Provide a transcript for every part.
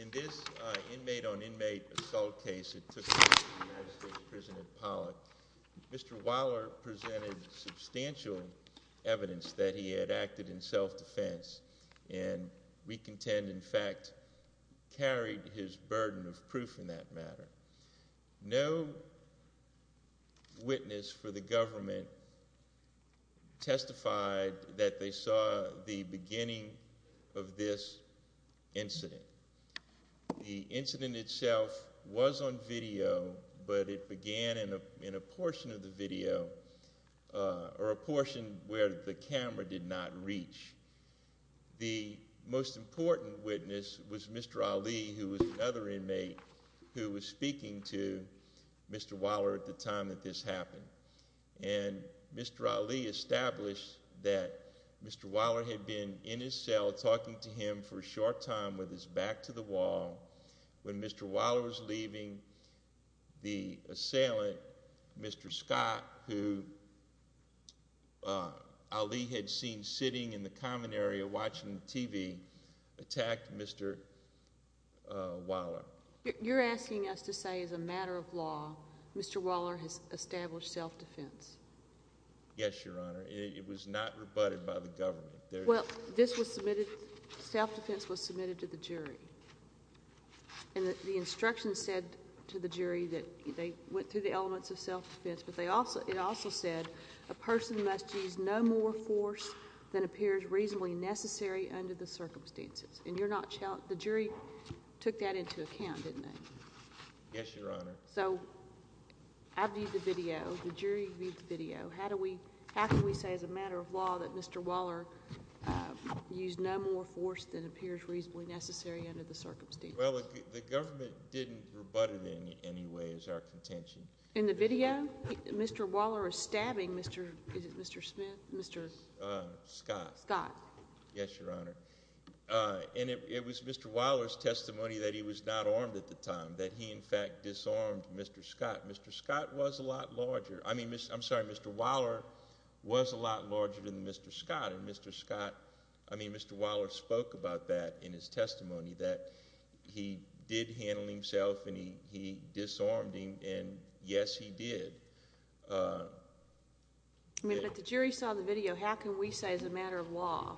In this inmate-on-inmate assault case that took place in the United States prison in Pollock, Mr. Waller presented substantial evidence that he had acted in self-defense and we contend, in fact, carried his burden of proof in that matter. No witness for the government testified that they saw the beginning of this incident. The incident itself was on video, but it began in a portion of the video, or a portion where the camera did not reach. The most important witness was Mr. Ali, who was another inmate, who was speaking to Mr. Waller at the time that this happened. And Mr. Ali established that Mr. Waller had been in his cell talking to him for a short time with his back to the wall. When Mr. Waller was leaving, the assailant, Mr. Scott, who Ali had seen sitting in the common area watching TV, attacked Mr. Waller. You're asking us to say, as a matter of law, Mr. Waller has established self-defense? Yes, Your Honor. It was not rebutted by the government. Well, this was submitted, self-defense was submitted to the jury. And the instructions said to the jury that they went through the elements of self-defense, but it also said a person must use no more force than appears reasonably necessary under the circumstances. And the jury took that into account, didn't they? Yes, Your Honor. So, I viewed the video, the jury viewed the video. How can we say, as a matter of law, that Mr. Waller used no more force than appears reasonably necessary under the circumstances? Well, the government didn't rebut it in any way as our contention. In the video, Mr. Waller is stabbing Mr., is it Mr. Smith? Scott. Scott. Yes, Your Honor. And it was Mr. Waller's testimony that he was not armed at the time, that he, in fact, disarmed Mr. Scott. Mr. Scott was a lot larger, I mean, I'm sorry, Mr. Waller was a lot larger than Mr. Scott. And Mr. Scott, I mean, Mr. Waller spoke about that in his testimony, that he did handle himself and he disarmed him, and yes, he did. But the jury saw the video. How can we say, as a matter of law,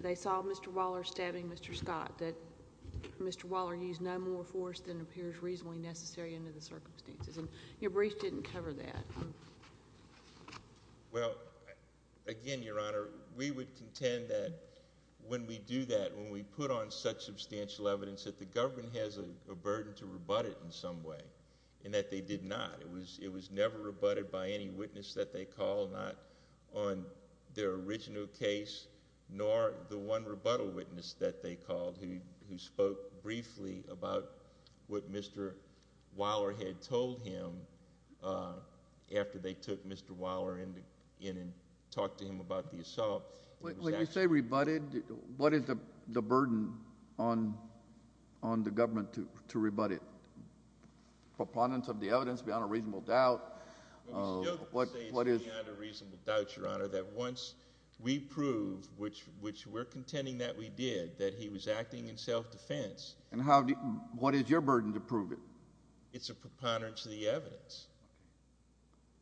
they saw Mr. Waller stabbing Mr. Scott, that Mr. Waller used no more force than appears reasonably necessary under the circumstances? And your brief didn't cover that. Well, again, Your Honor, we would contend that when we do that, when we put on such substantial evidence, that the government has a burden to rebut it in some way, and that they did not. It was never rebutted by any witness that they called, not on their original case, nor the one rebuttal witness that they called who spoke briefly about what Mr. Waller had told him after they took Mr. Waller in and talked to him about the assault. When you say rebutted, what is the burden on the government to rebut it? Proponents of the evidence beyond a reasonable doubt? What is beyond a reasonable doubt, Your Honor, that once we prove, which we're contending that we did, that he was acting in self-defense. And what is your burden to prove it? It's a preponderance of the evidence.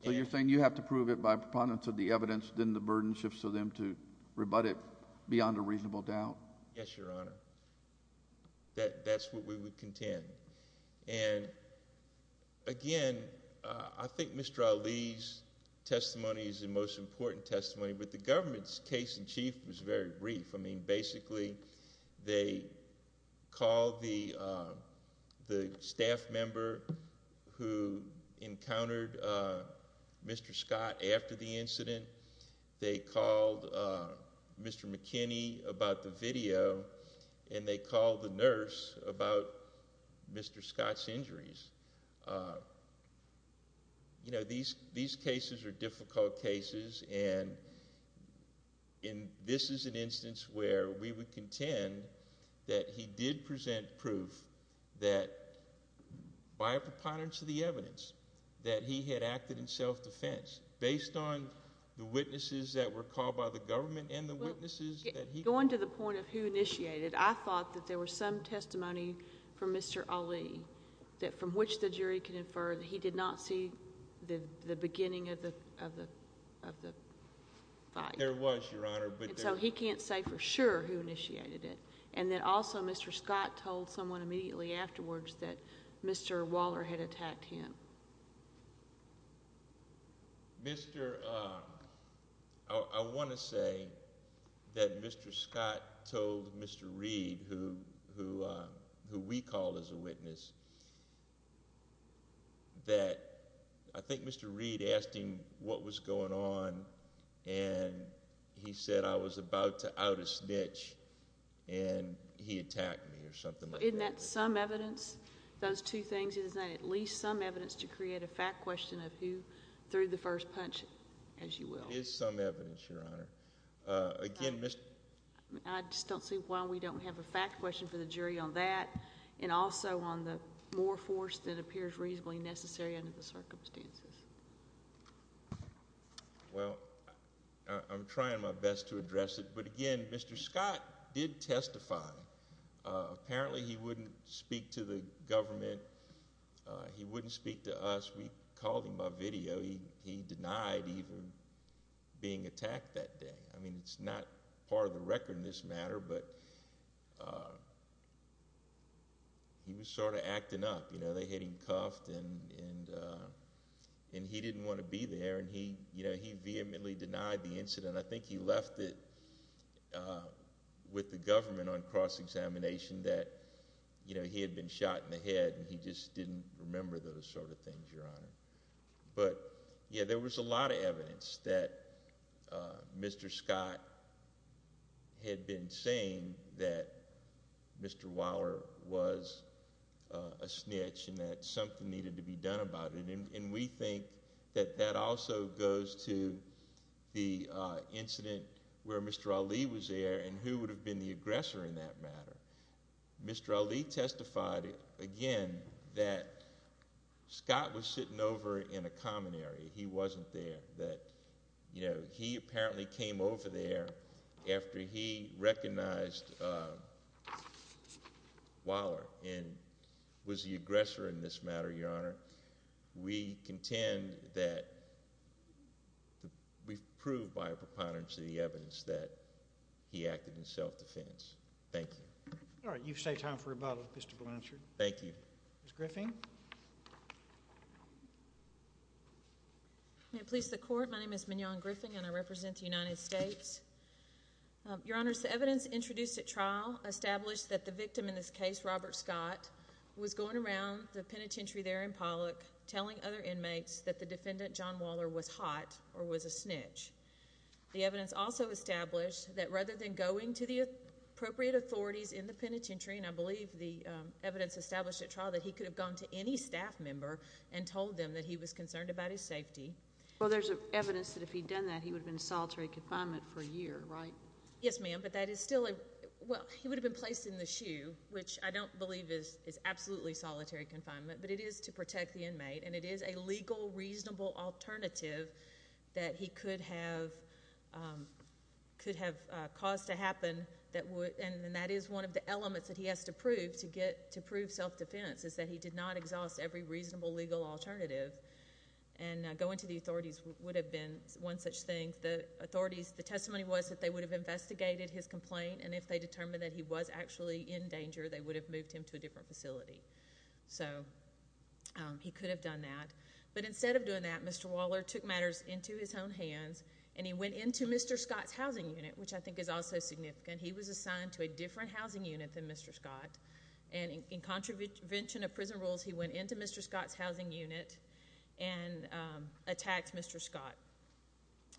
So you're saying you have to prove it by preponderance of the evidence, then the burden shifts to them to rebut it beyond a reasonable doubt? Yes, Your Honor. That's what we would contend. And, again, I think Mr. Ali's testimony is the most important testimony, but the government's case in chief was very brief. I mean, basically they called the staff member who encountered Mr. Scott after the incident. They called Mr. McKinney about the video, and they called the nurse about Mr. Scott's injuries. You know, these cases are difficult cases, and this is an instance where we would contend that he did present proof that by a preponderance of the evidence, that he had acted in self-defense based on the witnesses that were called by the government and the witnesses that he called. Going to the point of who initiated, I thought that there was some testimony from Mr. Ali from which the jury could infer that he did not see the beginning of the fight. And so he can't say for sure who initiated it. And then also Mr. Scott told someone immediately afterwards that Mr. Waller had attacked him. I want to say that Mr. Scott told Mr. Reed, who we called as a witness, that I think Mr. Reed asked him what was going on, and he said I was about to out a snitch, and he attacked me or something like that. So isn't that some evidence, those two things? Isn't that at least some evidence to create a fact question of who threw the first punch, as you will? It is some evidence, Your Honor. I just don't see why we don't have a fact question for the jury on that, and also on the more force that appears reasonably necessary under the circumstances. Well, I'm trying my best to address it, but again, Mr. Scott did testify. Apparently he wouldn't speak to the government. He wouldn't speak to us. We called him by video. He denied even being attacked that day. I mean it's not part of the record in this matter, but he was sort of acting up. They hit him cuffed, and he didn't want to be there, and he vehemently denied the incident. I think he left it with the government on cross-examination that he had been shot in the head, and he just didn't remember those sort of things, Your Honor. But, yeah, there was a lot of evidence that Mr. Scott had been saying that Mr. Waller was a snitch and that something needed to be done about it. And we think that that also goes to the incident where Mr. Ali was there and who would have been the aggressor in that matter. Mr. Ali testified, again, that Scott was sitting over in a common area. He wasn't there. He apparently came over there after he recognized Waller and was the aggressor in this matter, Your Honor. We contend that we've proved by a preponderance of the evidence that he acted in self-defense. Thank you. All right, you've saved time for rebuttal, Mr. Blanchard. Thank you. Ms. Griffin? May it please the Court, my name is Mignon Griffin, and I represent the United States. Your Honors, the evidence introduced at trial established that the victim in this case, Robert Scott, was going around the penitentiary there in Pollock telling other inmates that the defendant, John Waller, was hot or was a snitch. The evidence also established that rather than going to the appropriate authorities in the penitentiary, and I believe the evidence established at trial that he could have gone to any staff member and told them that he was concerned about his safety. Well, there's evidence that if he'd done that, he would have been in solitary confinement for a year, right? Yes, ma'am, but that is still a – well, he would have been placed in the shoe, which I don't believe is absolutely solitary confinement, but it is to protect the inmate, and it is a legal, reasonable alternative that he could have caused to happen, and that is one of the elements that he has to prove to prove self-defense, is that he did not exhaust every reasonable legal alternative, and going to the authorities would have been one such thing. The testimony was that they would have investigated his complaint, and if they determined that he was actually in danger, they would have moved him to a different facility. So he could have done that, but instead of doing that, Mr. Waller took matters into his own hands, and he went into Mr. Scott's housing unit, which I think is also significant. He was assigned to a different housing unit than Mr. Scott, and in contravention of prison rules, he went into Mr. Scott's housing unit and attacked Mr. Scott.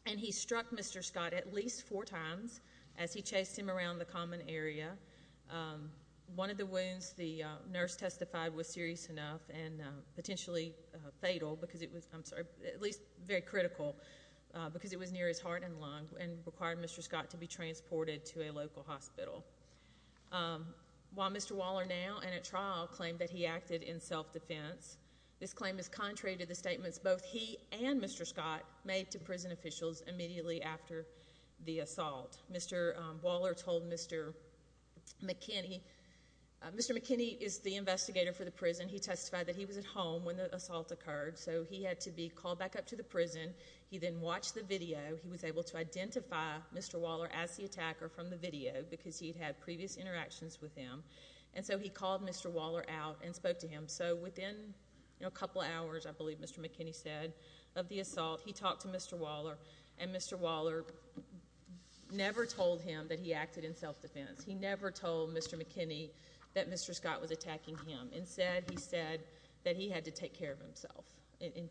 And he struck Mr. Scott at least four times as he chased him around the common area. One of the wounds the nurse testified was serious enough and potentially fatal, because it was, I'm sorry, at least very critical, because it was near his heart and lung, and required Mr. Scott to be transported to a local hospital. While Mr. Waller now, and at trial, claimed that he acted in self-defense, this claim is contrary to the statements both he and Mr. Scott made to prison officials immediately after the assault. Mr. Waller told Mr. McKinney, Mr. McKinney is the investigator for the prison. He testified that he was at home when the assault occurred, so he had to be called back up to the prison. He then watched the video. He was able to identify Mr. Waller as the attacker from the video, because he'd had previous interactions with him. And so he called Mr. Waller out and spoke to him. So within a couple hours, I believe Mr. McKinney said, of the assault, he talked to Mr. Waller, and Mr. Waller never told him that he acted in self-defense. He never told Mr. McKinney that Mr. Scott was attacking him. Instead, he said that he had to take care of himself in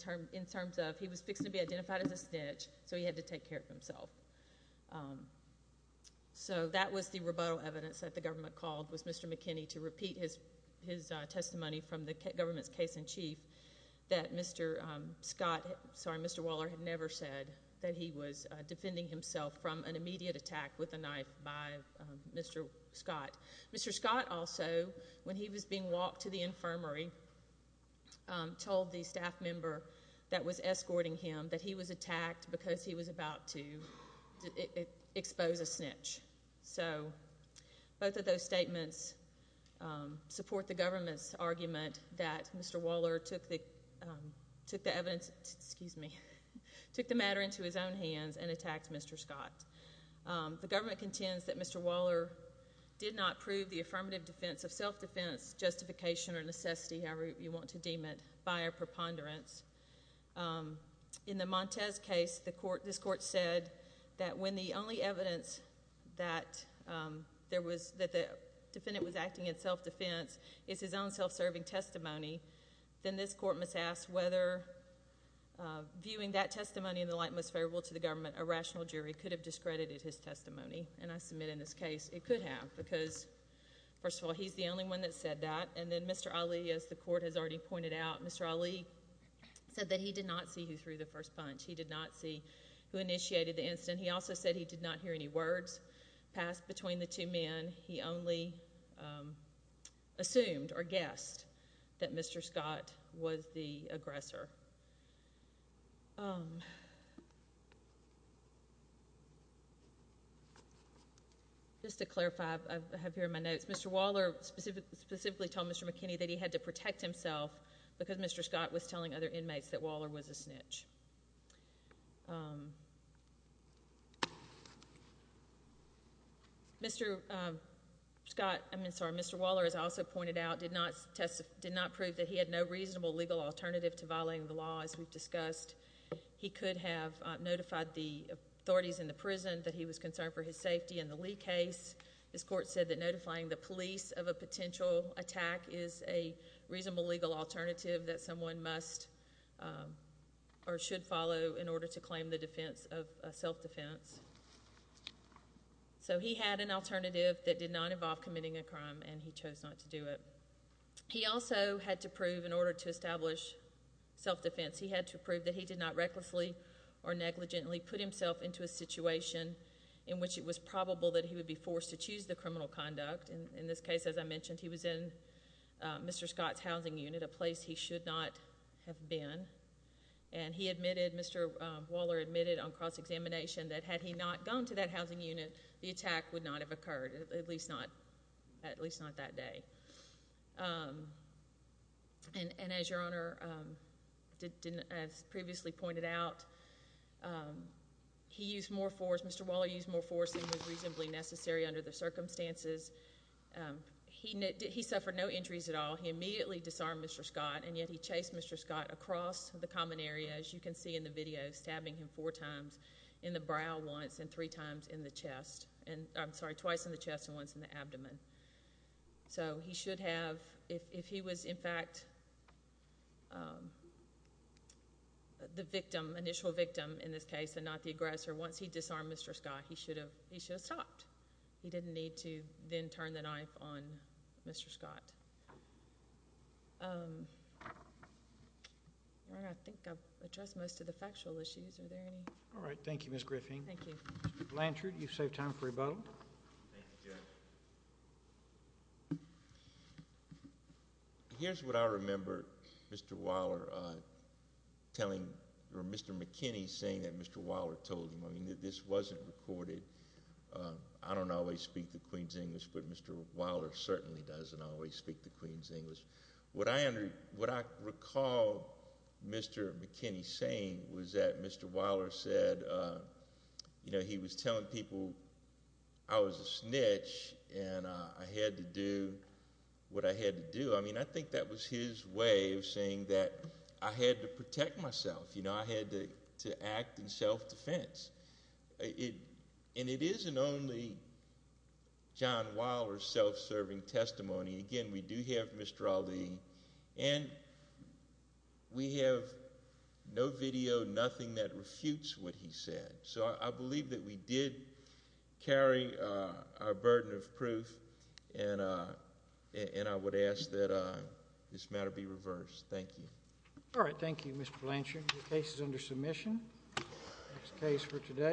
terms of he was fixing to be identified as a snitch, so he had to take care of himself. So that was the rebuttal evidence that the government called was Mr. McKinney to repeat his testimony from the government's case in chief that Mr. Scott, sorry, Mr. Waller had never said that he was defending himself from an immediate attack with a knife by Mr. Scott. Mr. Scott also, when he was being walked to the infirmary, told the staff member that was escorting him that he was attacked because he was about to expose a snitch. So both of those statements support the government's argument that Mr. Waller took the evidence, excuse me, took the matter into his own hands and attacked Mr. Scott. The government contends that Mr. Waller did not prove the affirmative defense of self-defense justification or necessity, however you want to deem it, by a preponderance. In the Montez case, this court said that when the only evidence that the defendant was acting in self-defense is his own self-serving testimony, then this court must ask whether viewing that testimony in the light most favorable to the government, a rational jury could have discredited his testimony. And I submit in this case it could have because, first of all, he's the only one that said that. And then Mr. Ali, as the court has already pointed out, Mr. Ali said that he did not see who threw the first punch. He did not see who initiated the incident. He also said he did not hear any words passed between the two men. He only assumed or guessed that Mr. Scott was the aggressor. Just to clarify, I have here in my notes, Mr. Waller specifically told Mr. McKinney that he had to protect himself because Mr. Scott was telling other inmates that Waller was a snitch. Mr. Scott, I mean, sorry, Mr. Waller, as I also pointed out, did not prove that he had no reasonable legal alternative to violating the law, as we've discussed. He could have notified the authorities in the prison that he was concerned for his safety in the Lee case. This court said that notifying the police of a potential attack is a reasonable legal alternative that someone must or should follow in order to claim the defense of self-defense. So he had an alternative that did not involve committing a crime, and he chose not to do it. He also had to prove, in order to establish self-defense, he had to prove that he did not recklessly or negligently put himself into a situation in which it was probable that he would be forced to choose the criminal conduct. In this case, as I mentioned, he was in Mr. Scott's housing unit, a place he should not have been, and he admitted, Mr. Waller admitted on cross-examination that had he not gone to that housing unit, the attack would not have occurred, at least not that day. And as your Honor, as previously pointed out, he used more force, which I think was reasonably necessary under the circumstances. He suffered no injuries at all. He immediately disarmed Mr. Scott, and yet he chased Mr. Scott across the common area, as you can see in the video, stabbing him four times in the brow once and three times in the chest. I'm sorry, twice in the chest and once in the abdomen. So he should have, if he was in fact the victim, initial victim in this case and not the aggressor, once he disarmed Mr. Scott, he should have stopped. He didn't need to then turn the knife on Mr. Scott. Your Honor, I think I've addressed most of the factual issues. Are there any? All right. Thank you, Ms. Griffin. Thank you. Mr. Blanchard, you've saved time for rebuttal. Thank you, Judge. Here's what I remember Mr. Waller telling or Mr. McKinney saying that Mr. Waller told him. I mean, this wasn't recorded. I don't always speak the Queen's English, but Mr. Waller certainly doesn't always speak the Queen's English. What I recall Mr. McKinney saying was that Mr. Waller said he was telling people I was a snitch and I had to do what I had to do. I mean, I think that was his way of saying that I had to protect myself. I had to act in self-defense. And it isn't only John Waller's self-serving testimony. Again, we do have Mr. Ali, and we have no video, nothing that refutes what he said. So I believe that we did carry our burden of proof, and I would ask that this matter be reversed. Thank you. All right. Thank you, Mr. Blanchard. The case is under submission. That's the case for today.